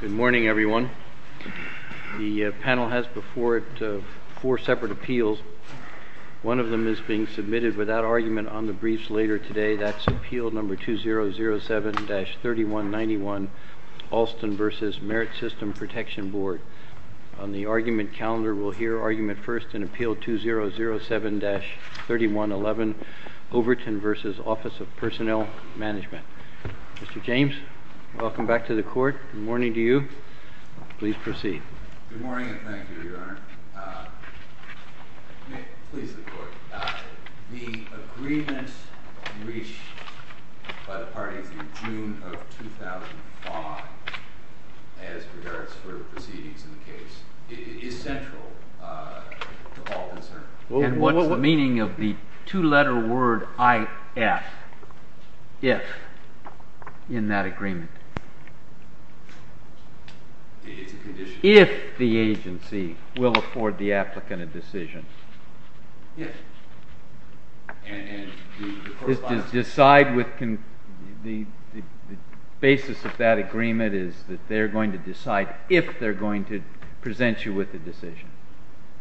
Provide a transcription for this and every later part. Good morning, everyone. The panel has before it four separate appeals. One of them is being submitted without argument on the briefs later today. That's Appeal No. 2007-3191, Alston v. Merit System Protection Board. On the argument calendar, we'll hear argument first in Appeal No. 2007-3111, Overton v. Office of Personnel Management. Mr. James, welcome back to the court. Good morning to you. Please proceed. Good morning and thank you, Your Honor. Please, the Court. The agreement reached by the parties in June of 2005 as regards to proceedings in the case is central to all concern. And what's the meaning of the two-letter word IF in that agreement? It's a condition. If the agency will afford the applicant a decision. Yes. And the correspondence… The basis of that agreement is that they're going to decide if they're going to present you with a decision.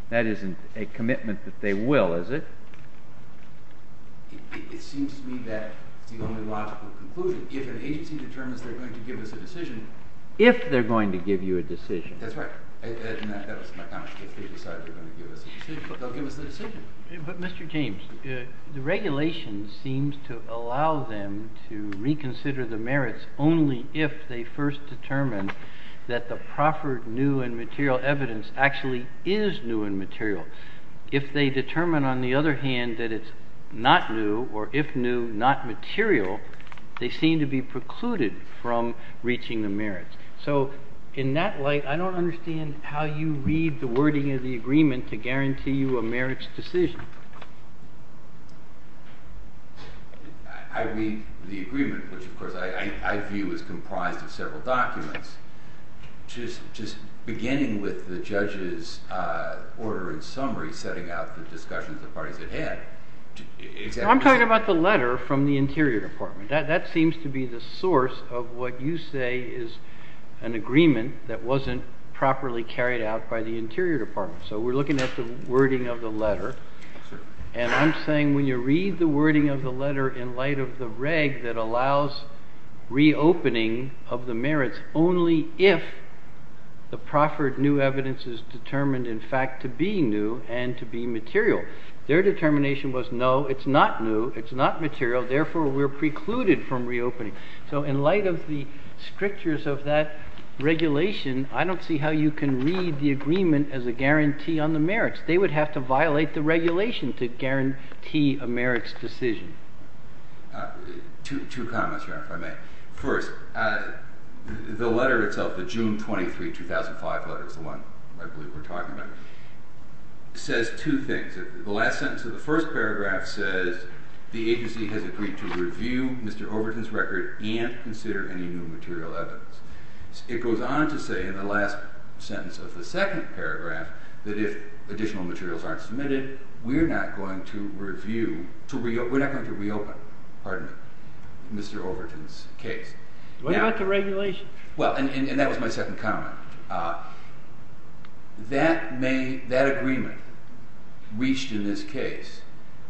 That isn't a commitment that they will, is it? It seems to me that the only logical conclusion, if an agency determines they're going to give us a decision… If they're going to give you a decision. That's right. That was my comment. If they decide they're going to give us a decision, they'll give us the decision. But, Mr. James, the regulation seems to allow them to reconsider the merits only if they first determine that the proffered new and material evidence actually is new and material. If they determine, on the other hand, that it's not new, or if new, not material, they seem to be precluded from reaching the merits. So in that light, I don't understand how you read the wording of the agreement to guarantee you a merits decision. I read the agreement, which, of course, I view as comprised of several documents. Just beginning with the judge's order and summary setting out the discussions the parties had had… I'm talking about the letter from the Interior Department. That seems to be the source of what you say is an agreement that wasn't properly carried out by the Interior Department. So we're looking at the wording of the letter, and I'm saying when you read the wording of the letter in light of the reg that allows reopening of the merits only if the proffered new evidence is determined, in fact, to be new and to be material. Their determination was, no, it's not new, it's not material, therefore we're precluded from reopening. So in light of the strictures of that regulation, I don't see how you can read the agreement as a guarantee on the merits. They would have to violate the regulation to guarantee a merits Two comments, Your Honor, if I may. First, the letter itself, the June 23, 2005 letter, the one I believe we're talking about, says two things. The last sentence of the first material evidence. It goes on to say in the last sentence of the second paragraph that if additional materials aren't submitted, we're not going to review, we're not going to reopen, pardon me, Mr. Overton's case. What about the regulation? Well, and that was my second comment. That agreement reached in this case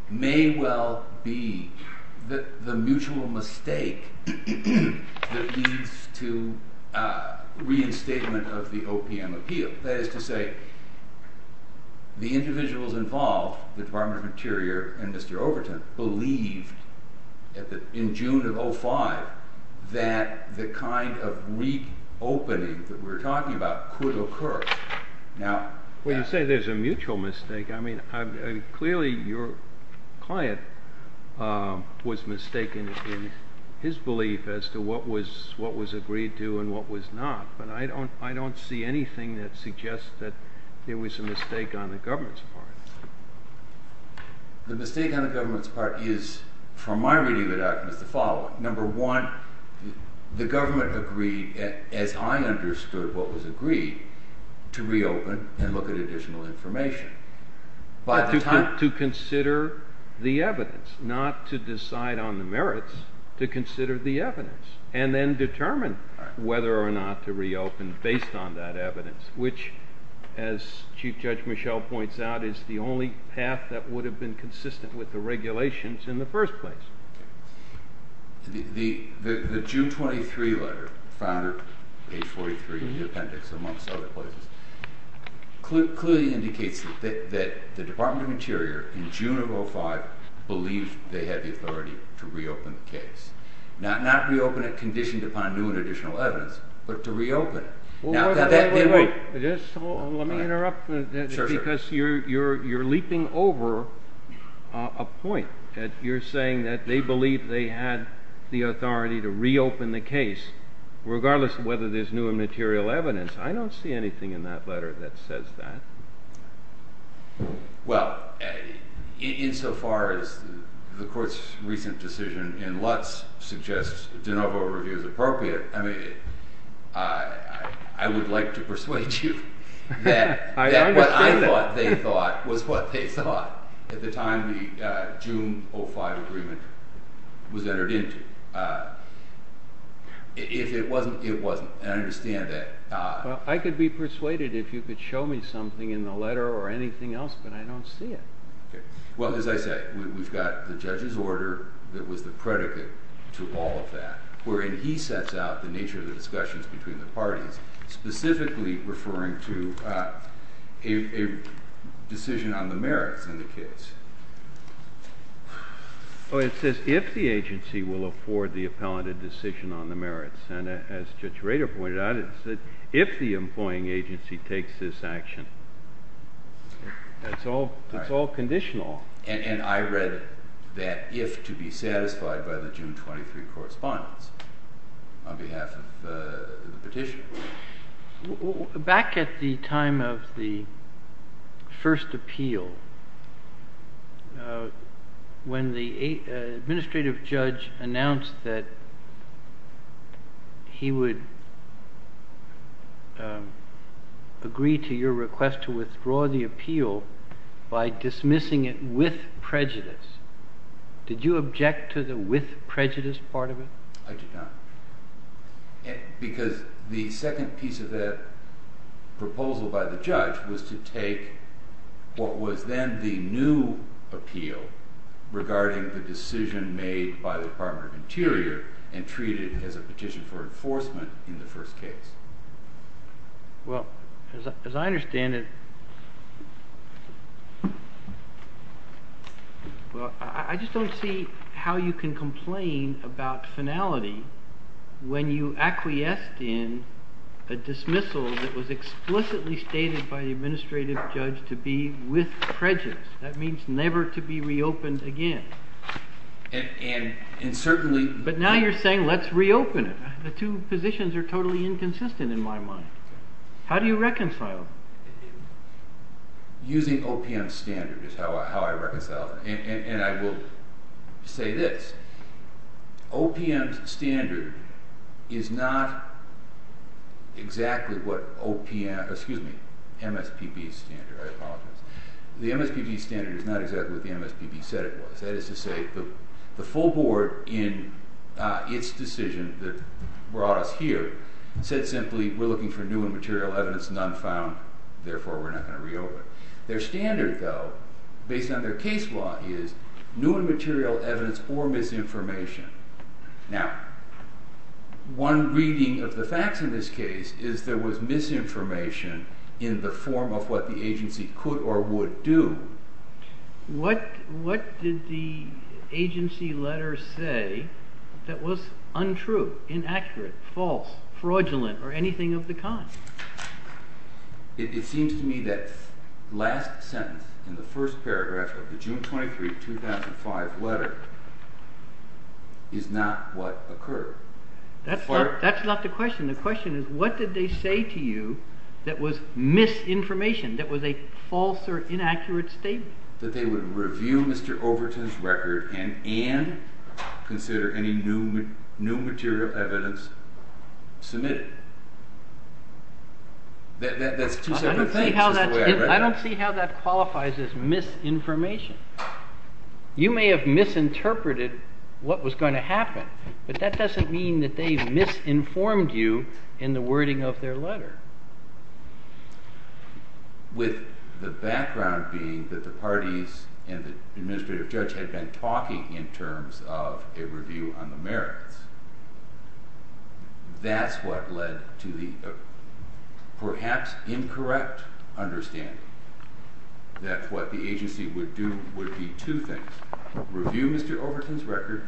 may well be the mutual mistake that leads to reinstatement of the OPM appeal. That is to say, the individuals involved, the Department of Interior and Mr. Overton, believed in June of 2005 that the kind of reopening that we're talking about could occur. Well, you say there's a mutual mistake. I mean, clearly your client was mistaken in his belief as to what was agreed to and what was not, but I don't see anything that suggests that there was a mistake on the government's part. The mistake on the government's part is, from my reading of it, was the following. Well, number one, the government agreed, as I understood what was agreed, to reopen and look at additional information. To consider the evidence, not to decide on the merits, to consider the evidence and then determine whether or not to reopen based on that evidence, which, as Chief Judge Michel points out, is the only path that would have been consistent with the regulations in the first place. The June 23 letter, found at page 43 of the appendix, amongst other places, clearly indicates that the Department of Interior, in June of 2005, believed they had the authority to reopen the case. Not reopen it conditioned upon new and additional evidence, but to reopen it. Now, that didn't— Wait, wait, wait. Let me interrupt. Sure, sure. Because you're leaping over a point. You're saying that they believed they had the authority to reopen the case, regardless of whether there's new and material evidence. I don't see anything in that letter that says that. Well, insofar as the Court's recent decision in Lutz suggests de novo review is appropriate, I mean, I would like to persuade you that what I thought they thought was what they thought at the time the June 05 agreement was entered into. If it wasn't, it wasn't. And I understand that. Well, I could be persuaded if you could show me something in the letter or anything else, but I don't see it. Well, as I said, we've got the judge's order that was the predicate to all of that, wherein he sets out the nature of the discussions between the parties, specifically referring to a decision on the merits in the case. Well, it says if the agency will afford the appellant a decision on the merits. And as Judge Rader pointed out, it said if the employing agency takes this action. It's all conditional. And I read that if to be satisfied by the June 23 correspondence on behalf of the petitioner. Back at the time of the first appeal, when the administrative judge announced that he would agree to your request to withdraw the appeal by dismissing it with prejudice, did you object to the with prejudice part of it? I did not. Because the second piece of that proposal by the judge was to take what was then the new appeal regarding the decision made by the Department of Interior and treat it as a petition for enforcement in the first case. Well, as I understand it, I just don't see how you can complain about finality when you acquiesced in a dismissal that was explicitly stated by the administrative judge to be with prejudice. That means never to be reopened again. But now you're saying let's reopen it. The two positions are totally inconsistent in my mind. How do you reconcile? Using OPM's standard is how I reconcile it. And I will say this. OPM's standard is not exactly what MSPB's standard. I apologize. The MSPB's standard is not exactly what the MSPB said it was. That is to say, the full board in its decision that brought us here said simply we're looking for new and material evidence, none found, therefore we're not going to reopen it. Their standard, though, based on their case law is new and material evidence or misinformation. Now, one reading of the facts in this case is there was misinformation in the form of what the agency could or would do. What did the agency letter say that was untrue, inaccurate, false, fraudulent, or anything of the kind? It seems to me that last sentence in the first paragraph of the June 23, 2005 letter is not what occurred. That's not the question. The question is what did they say to you that was misinformation, that was a false or inaccurate statement? That they would review Mr. Overton's record and consider any new material evidence submitted. I don't see how that qualifies as misinformation. You may have misinterpreted what was going to happen, but that doesn't mean that they misinformed you in the wording of their letter. With the background being that the parties and the administrative judge had been talking in terms of a review on the merits, that's what led to the perhaps incorrect understanding that what the agency would do would be two things, review Mr. Overton's record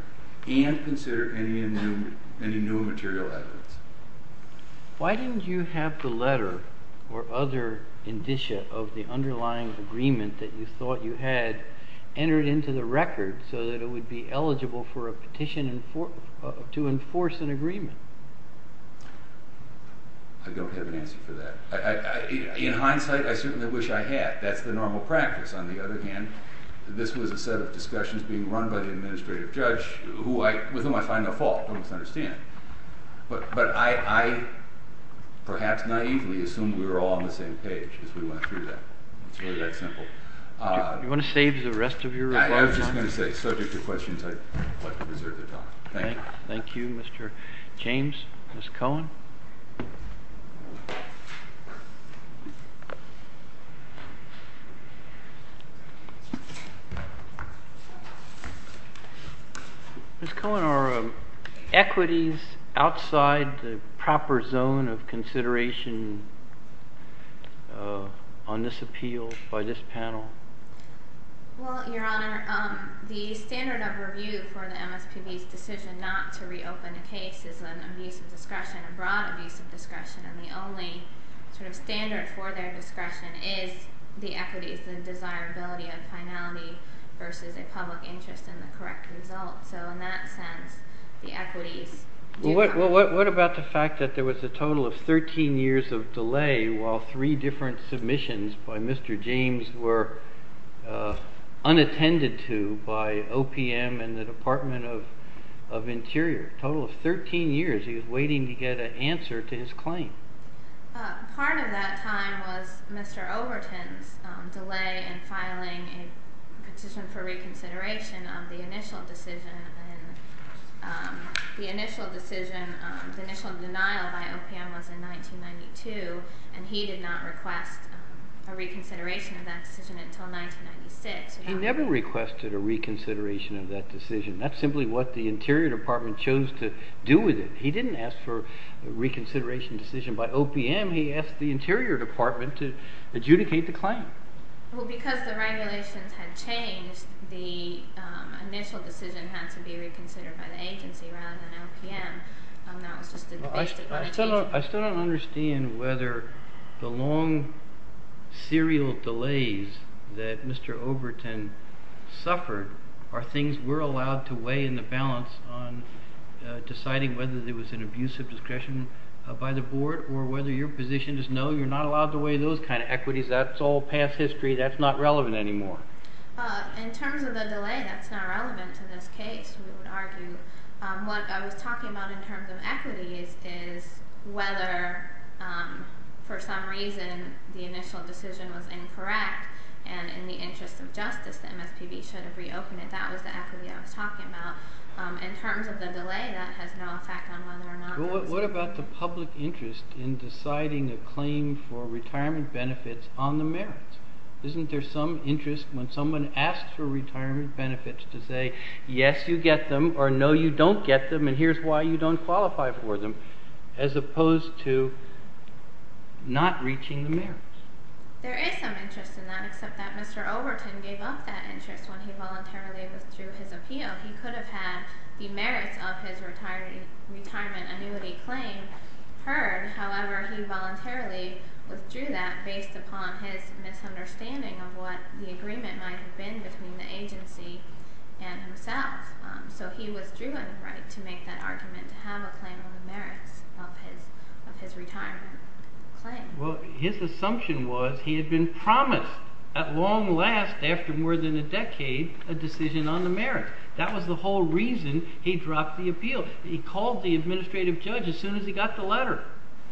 and consider any new material evidence. Why didn't you have the letter or other indicia of the underlying agreement that you thought you had entered into the record so that it would be eligible for a petition to enforce an agreement? I don't have an answer for that. In hindsight, I certainly wish I had. That's the normal practice. On the other hand, this was a set of discussions being run by the administrative judge with whom I find no fault. Don't misunderstand. But I perhaps naively assumed we were all on the same page as we went through that. It's really that simple. Do you want to save the rest of your reply time? I was just going to say, subject to questions, I'd like to reserve the time. Thank you. Thank you, Mr. James. Ms. Cohen? Ms. Cohen, are equities outside the proper zone of consideration on this appeal by this panel? Well, Your Honor, the standard of review for the MSPB's decision not to reopen a case is an abuse of discretion, a broad abuse of discretion. And the only sort of standard for their discretion is the equities, the desirability of finality versus a public interest in the correct result. So in that sense, the equities do count. Well, what about the fact that there was a total of 13 years of delay while three different submissions by Mr. James were unattended to by OPM and the Department of Interior? A total of 13 years he was waiting to get an answer to his claim. Part of that time was Mr. Overton's delay in filing a petition for reconsideration of the initial decision. The initial denial by OPM was in 1992, and he did not request a reconsideration of that decision until 1996. He never requested a reconsideration of that decision. That's simply what the Interior Department chose to do with it. He didn't ask for a reconsideration decision by OPM. He asked the Interior Department to adjudicate the claim. Well, because the regulations had changed, the initial decision had to be reconsidered by the agency rather than OPM. That was just the basis of the petition. I still don't understand whether the long serial delays that Mr. Overton suffered are things we're allowed to weigh in the balance on deciding whether there was an abuse of discretion by the board or whether your position is, no, you're not allowed to weigh those kinds of equities. That's all past history. That's not relevant anymore. In terms of the delay, that's not relevant to this case, we would argue. What I was talking about in terms of equity is whether, for some reason, the initial decision was incorrect and in the interest of justice, the MSPB should have reopened it. That was the equity I was talking about. In terms of the delay, that has no effect on whether or not there was in deciding a claim for retirement benefits on the merits. Isn't there some interest when someone asks for retirement benefits to say, yes, you get them, or no, you don't get them, and here's why you don't qualify for them, as opposed to not reaching the merits? There is some interest in that, except that Mr. Overton gave up that interest when he voluntarily withdrew his appeal. He could have had the merits of his retirement annuity claim heard, however, he voluntarily withdrew that based upon his misunderstanding of what the agreement might have been between the agency and himself. So he withdrew on the right to make that argument to have a claim on the merits of his retirement claim. Well, his assumption was he had been promised at long last, after more than a decade, a decision on the merits. That was the whole reason he dropped the appeal. He called the judge as soon as he got the letter,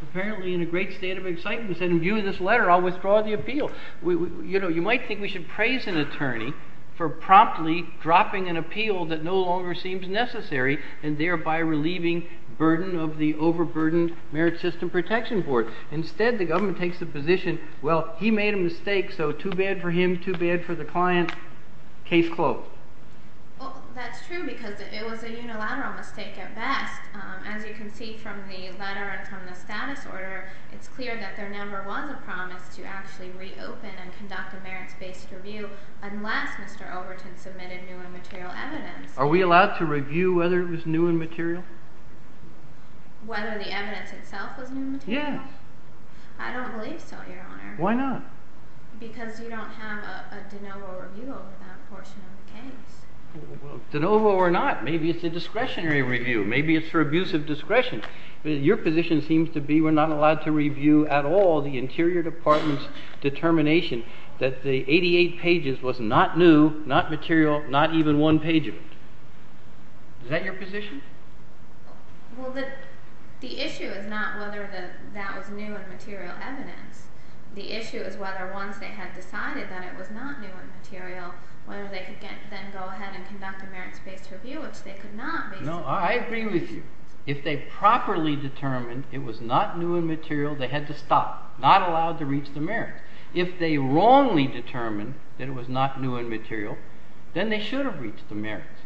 apparently in a great state of excitement. He said, in view of this letter, I'll withdraw the appeal. You know, you might think we should praise an attorney for promptly dropping an appeal that no longer seems necessary, and thereby relieving burden of the overburdened Merit System Protection Board. Instead, the government takes the position, well, he made a mistake, so too bad for him, too bad for the client, case closed. Well, that's true, because it was a unilateral mistake at best. As you can see from the letter and from the status order, it's clear that there never was a promise to actually reopen and conduct a merits-based review unless Mr. Overton submitted new and material evidence. Are we allowed to review whether it was new and material? Whether the evidence itself was new and material? Yes. I don't believe so, Your Honor. Why not? Because you don't have a de novo review over that portion of the case. Well, de novo or not, maybe it's a discretionary review, maybe it's for abuse of discretion. Your position seems to be we're not allowed to review at all the Interior Department's determination that the 88 pages was not new, not material, not even one page of it. Is that your position? Well, the issue is not whether that was new and material evidence. The issue is whether once they had decided that it was not new and material, whether they could then go ahead and conduct a merits-based review, which they could not, basically. No, I agree with you. If they properly determined it was not new and material, they had to stop, not allowed to reach the merits. If they wrongly determined that it was not new and material, then they should have reached the merits.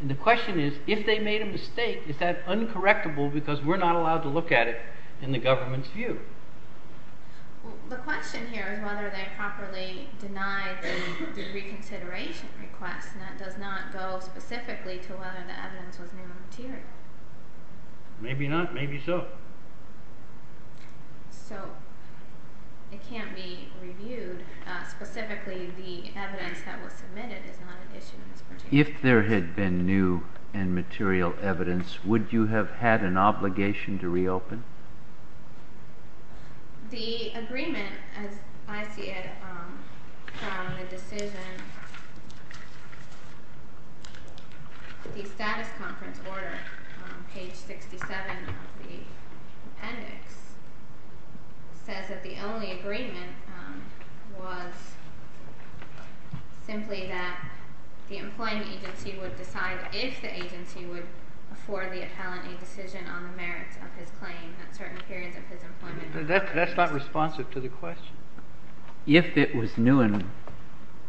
And the question is, if they made a mistake, is that uncorrectable because we're not allowed to look at it in the government's view? The question here is whether they properly denied the reconsideration request, and that does not go specifically to whether the evidence was new and material. Maybe not, maybe so. So it can't be reviewed. Specifically, the evidence that was submitted is not an issue in this particular case. If there had been new and material evidence, would you have had an obligation to reopen? The agreement, as I see it, from the decision, the status conference order, page 67 of the index, says that the only agreement was simply that the employing agency would decide if the agency would afford the appellant a decision on the merits of his claim at certain periods of his employment. That's not responsive to the question. If it was new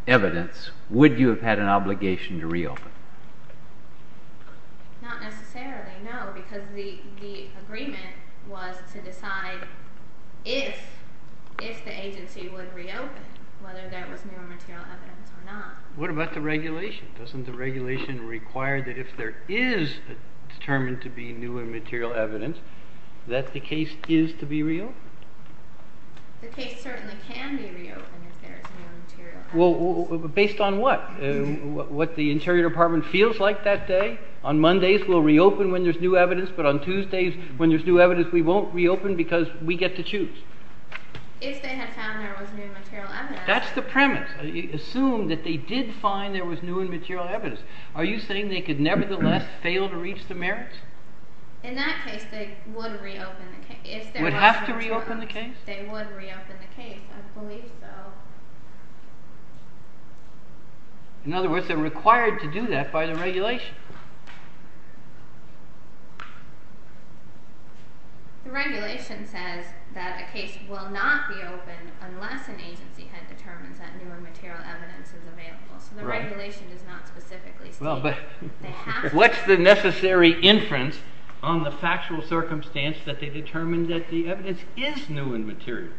evidence, would you have had an obligation to reopen? Not necessarily, no, because the agreement was to decide if the agency would reopen, whether there was new and material evidence or not. What about the regulation? Doesn't the regulation require that if there is determined to be new and material evidence, that the case is to be reopened? The case certainly can be reopened if there is new and material evidence. Based on what? What the Interior Department feels like that day? On Mondays, we'll reopen when there's new evidence, but on Tuesdays, when there's new evidence, we won't reopen because we get to choose. If they had found there was new and material evidence... That's the premise. Assume that they did find there was new and material evidence. Are you saying they could nevertheless fail to reach the merits? In that case, they would reopen the case. Would have to reopen the case? They would reopen the case, I believe so. In other words, they're required to do that by the regulation. The regulation says that a case will not be opened unless an agency head determines that new and material evidence is available. So the regulation does not specifically state that. What's the necessary inference on the factual circumstance that they determined that the evidence is new and material?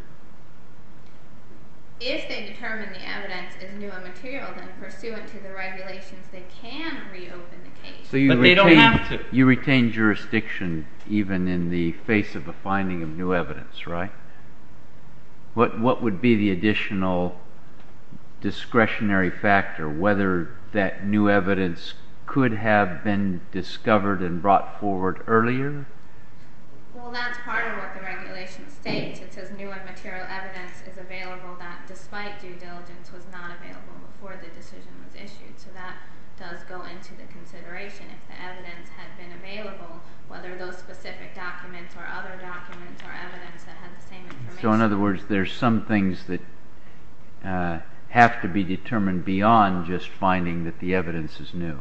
If they determine the evidence is new and material, then pursuant to the regulations, they can reopen the case. But they don't have to. You retain jurisdiction even in the face of a finding of new evidence, right? What would be the additional discretionary factor, whether that new evidence could have been discovered and brought forward earlier? Well, that's part of what the regulation states. It says new and material evidence is available that, despite due diligence, was not available before the decision was issued. So that does go into the consideration. If the evidence had been available, whether those specific documents or other documents or evidence that had the same information... So, in other words, there's some things that have to be determined beyond just finding that the evidence is new.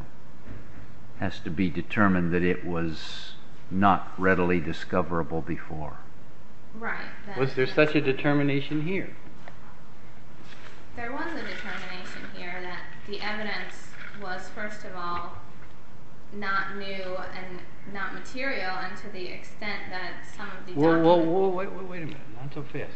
It has to be determined that it was not readily discoverable before. Right. Was there such a determination here? There was a determination here that the evidence was, first of all, not new and not material, and to the extent that some of the documents... Whoa, whoa, whoa, wait a minute. Not so fast.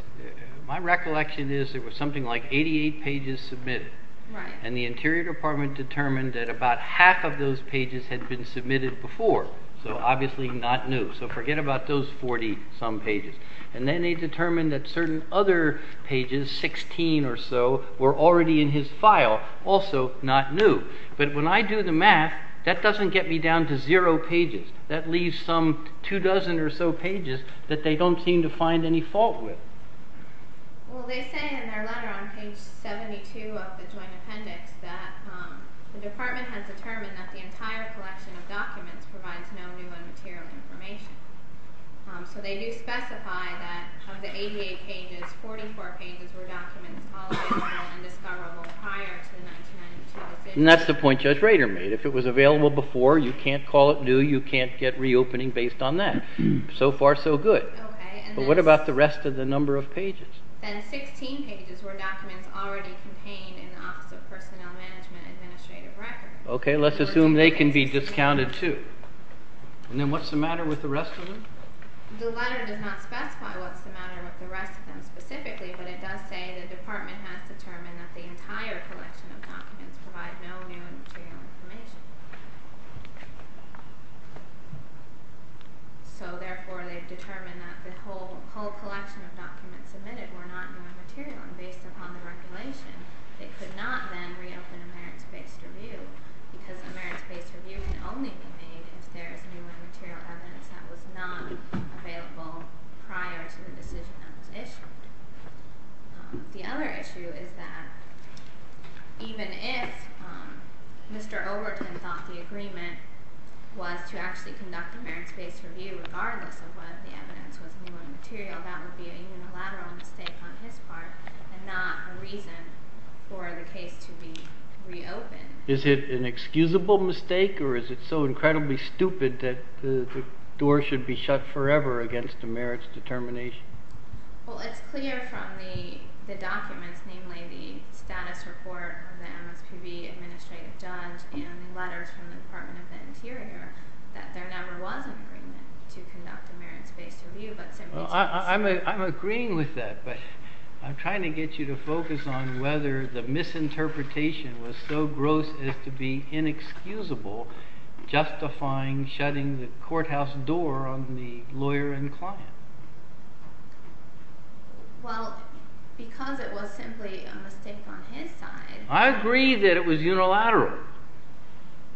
My recollection is there was something like 88 pages submitted. Right. And the Interior Department determined that about half of those pages had been submitted before, so obviously not new. So forget about those 40-some pages. And then they determined that certain other pages, 16 or so, were already in his file, also not new. But when I do the math, that doesn't get me down to zero pages. That leaves some two dozen or so pages that they don't seem to find any fault with. Well, they say in their letter on page 72 of the joint appendix that the department has determined that the entire collection of documents provides no new and material information. So they do specify that of the 88 pages, 44 pages were documents tolerable and discoverable prior to the 1992 decision. And that's the point Judge Rader made. If it was available before, you can't call it new, you can't get reopening based on that. So far, so good. Okay. But what about the rest of the number of pages? Then 16 pages were documents already contained in the Office of Personnel Management and Administrative Records. Okay, let's assume they can be discounted too. And then what's the matter with the rest of them? The letter does not specify what's the matter with the rest of them specifically, but it does say the department has determined that the entire collection of documents provides no new and material information. So, therefore, they've determined that the whole collection of documents submitted were not new and material. And based upon the regulation, they could not then reopen a merits-based review because a merits-based review can only be made if there is new and material evidence that was not available prior to the decision that was issued. The other issue is that even if Mr. Overton thought the agreement was to actually conduct a merits-based review regardless of whether the evidence was new and material, that would be a unilateral mistake on his part and not a reason for the case to be reopened. Is it an excusable mistake or is it so incredibly stupid that the door should be shut forever against a merits determination? Well, it's clear from the documents, namely the status report of the MSPB administrative judge and the letters from the Department of the Interior, that there never was an agreement to conduct a merits-based review. I'm agreeing with that, but I'm trying to get you to focus on whether the misinterpretation was so gross as to be inexcusable justifying shutting the courthouse door on the lawyer and client. Well, because it was simply a mistake on his side. I agree that it was unilateral.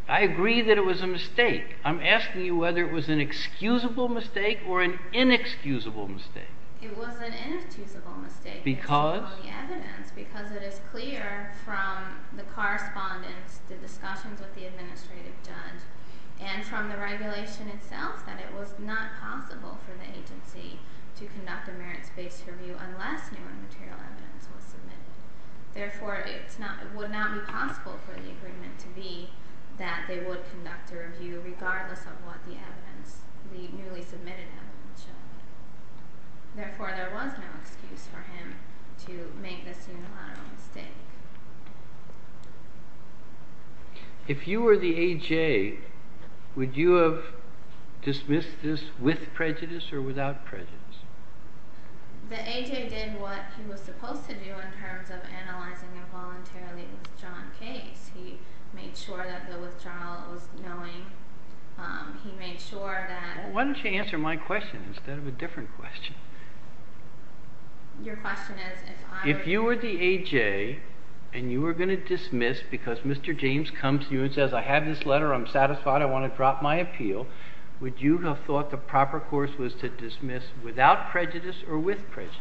I agree that it was a mistake. I'm asking you whether it was an excusable mistake or an inexcusable mistake. It was an inexcusable mistake. Because? Because it is clear from the correspondence, the discussions with the administrative judge, and from the regulation itself that it was not possible for the agency to conduct a merits-based review unless new and material evidence was submitted. Therefore, it would not be possible for the agreement to be that they would conduct a review regardless of what the newly submitted evidence showed. Therefore, there was no excuse for him to make this unilateral mistake. If you were the AJ, would you have dismissed this with prejudice or without prejudice? The AJ did what he was supposed to do in terms of analyzing a voluntarily withdrawn case. He made sure that the withdrawal was knowing. He made sure that... Why don't you answer my question instead of a different question? Your question is... If you were the AJ and you were going to dismiss because Mr. James comes to you and says, I have this letter, I'm satisfied, I want to drop my appeal, would you have thought the proper course was to dismiss without prejudice or with prejudice?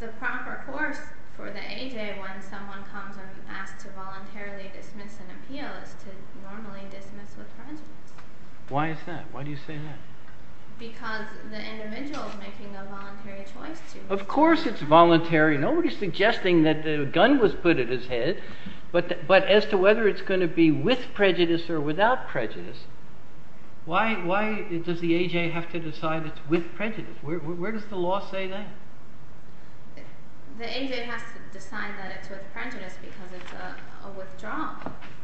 The proper course for the AJ when someone comes and asks to voluntarily dismiss an appeal is to normally dismiss with prejudice. Why is that? Why do you say that? Because the individual is making a voluntary choice to... Of course it's voluntary. Nobody's suggesting that a gun was put at his head. But as to whether it's going to be with prejudice or without prejudice, why does the AJ have to decide it's with prejudice? Where does the law say that? The AJ has to decide that it's with prejudice because it's a withdrawal.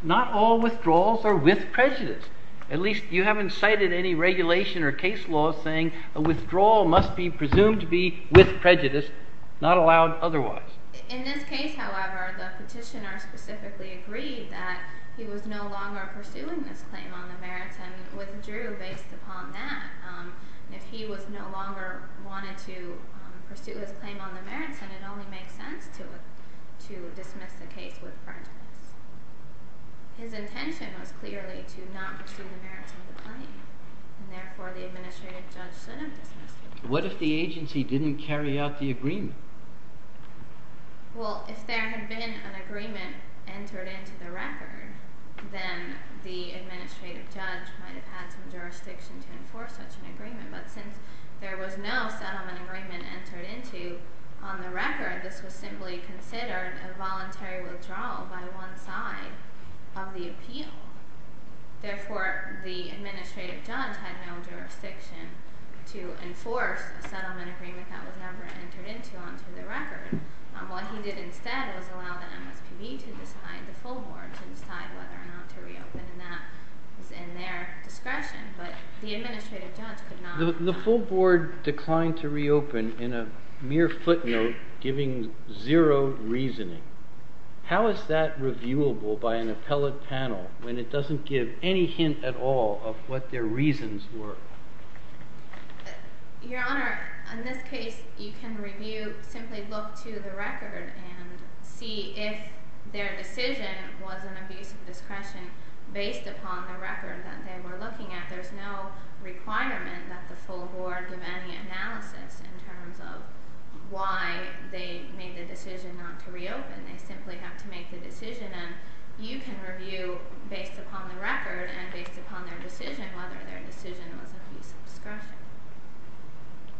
Not all withdrawals are with prejudice. At least you haven't cited any regulation or case law saying a withdrawal must be presumed to be with prejudice, not allowed otherwise. In this case, however, the petitioner specifically agreed that he was no longer pursuing this claim on the merits and withdrew based upon that. If he was no longer wanting to pursue his claim on the merits, then it only makes sense to dismiss the case with prejudice. His intention was clearly to not pursue the merits of the claim, and therefore the administrative judge should have dismissed it. What if the agency didn't carry out the agreement? Well, if there had been an agreement entered into the record, then the administrative judge might have had some jurisdiction to enforce such an agreement. But since there was no settlement agreement entered into on the record, this was simply considered a voluntary withdrawal by one side of the appeal. Therefore, the administrative judge had no jurisdiction to enforce a settlement agreement that was never entered into onto the record. What he did instead was allow the MSPB to decide, the full board, to decide whether or not to reopen, and that was in their discretion. The full board declined to reopen in a mere footnote, giving zero reasoning. How is that reviewable by an appellate panel when it doesn't give any hint at all of what their reasons were? Your Honor, in this case, you can review, simply look to the record and see if their decision was an abuse of discretion based upon the record that they were looking at. There's no requirement that the full board give any analysis in terms of why they made the decision not to reopen. They simply have to make the decision, and you can review based upon the record and based upon their decision whether their decision was an abuse of discretion.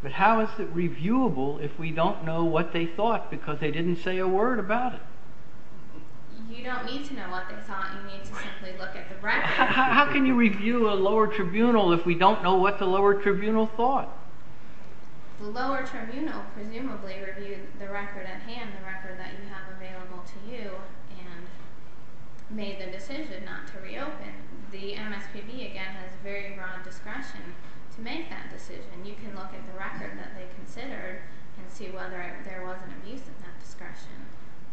But how is it reviewable if we don't know what they thought because they didn't say a word about it? You don't need to know what they thought. You need to simply look at the record. How can you review a lower tribunal if we don't know what the lower tribunal thought? The lower tribunal presumably reviewed the record at hand, the record that you have available to you, and made the decision not to reopen. The MSPB, again, has very broad discretion to make that decision. You can look at the record that they considered and see whether there was an abuse of that discretion.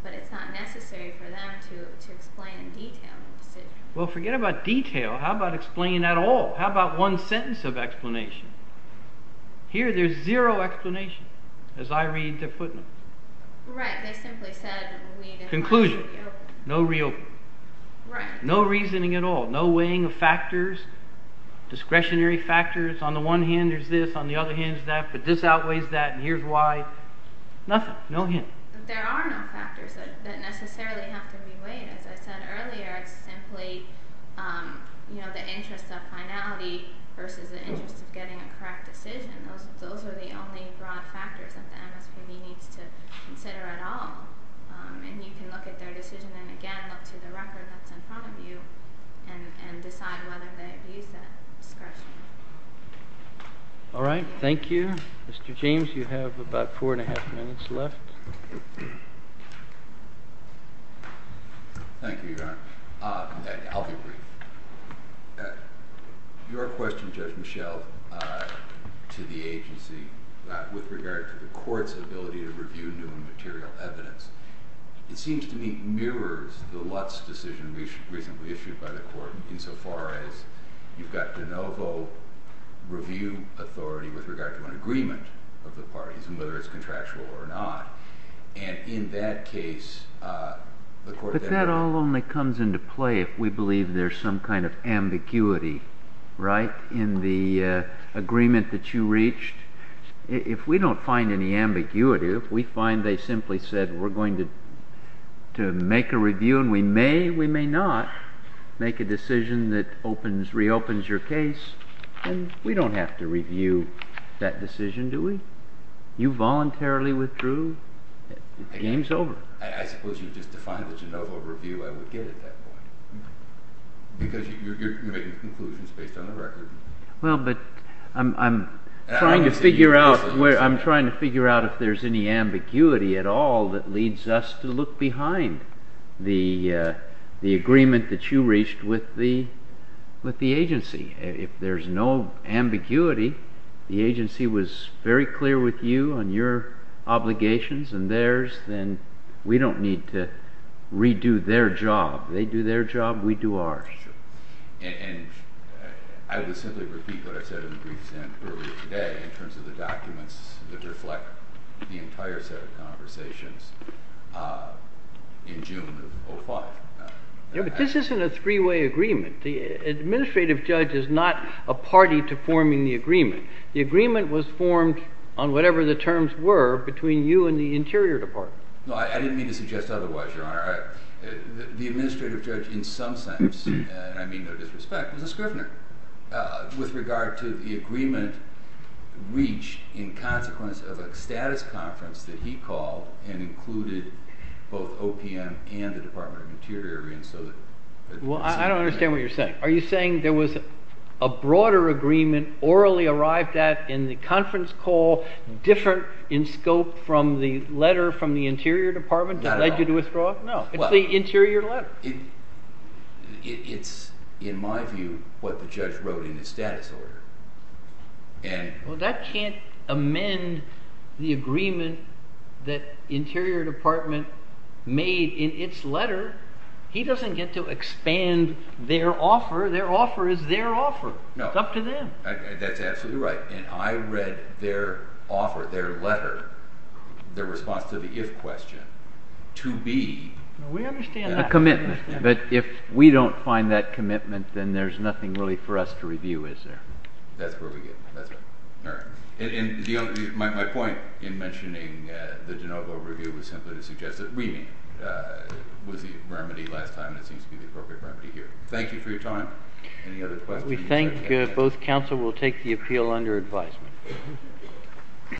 But it's not necessary for them to explain in detail the decision. Well, forget about detail. How about explaining at all? How about one sentence of explanation? Here there's zero explanation as I read their footnotes. Right. They simply said we didn't want to reopen. Conclusion. No reopening. No reasoning at all. No weighing of factors, discretionary factors. On the one hand there's this, on the other hand there's that, but this outweighs that, and here's why. Nothing. No hint. There are no factors that necessarily have to be weighed. As I said earlier, it's simply the interest of finality versus the interest of getting a correct decision. Those are the only broad factors that the MSPB needs to consider at all. And you can look at their decision and, again, look to the record that's in front of you and decide whether they abuse that discretion. All right. Thank you. Mr. James, you have about four and a half minutes left. Thank you, Your Honor. I'll be brief. Your question, Judge Michel, to the agency with regard to the court's ability to review new and material evidence, it seems to me mirrors the Lutz decision recently issued by the court insofar as you've got de novo review authority with regard to an agreement of the parties and whether it's contractual or not. And in that case, the court… But that all only comes into play if we believe there's some kind of ambiguity, right, in the agreement that you reached. If we don't find any ambiguity, if we find they simply said we're going to make a review and we may, we may not make a decision that opens, reopens your case, then we don't have to review that decision, do we? You voluntarily withdrew, the game's over. I suppose you've just defined the de novo review I would get at that point because you're making conclusions based on the record. Well, but I'm trying to figure out if there's any ambiguity at all that leads us to look behind the agreement that you reached with the agency. If there's no ambiguity, the agency was very clear with you on your obligations and theirs, then we don't need to redo their job. They do their job, we do ours. And I would simply repeat what I said in briefs earlier today in terms of the documents that reflect the entire set of conversations in June of 05. Yeah, but this isn't a three-way agreement. The administrative judge is not a party to forming the agreement. The agreement was formed on whatever the terms were between you and the Interior Department. No, I didn't mean to suggest otherwise, Your Honor. The administrative judge in some sense, and I mean no disrespect, was a scrivener. With regard to the agreement reached in consequence of a status conference that he called and included both OPM and the Department of Interior in. Well, I don't understand what you're saying. Are you saying there was a broader agreement orally arrived at in the conference call, different in scope from the letter from the Interior Department that led you to withdraw? No. It's the Interior letter. It's, in my view, what the judge wrote in his status order. Well, that can't amend the agreement that Interior Department made in its letter. He doesn't get to expand their offer. Their offer is their offer. It's up to them. That's absolutely right. And I read their offer, their letter, their response to the if question, to be. We understand that. A commitment. But if we don't find that commitment, then there's nothing really for us to review, is there? That's where we get. That's right. All right. And my point in mentioning the de novo review was simply to suggest that reaming was the remedy last time and it seems to be the appropriate remedy here. Thank you for your time. Any other questions? We think both counsel will take the appeal under advisement.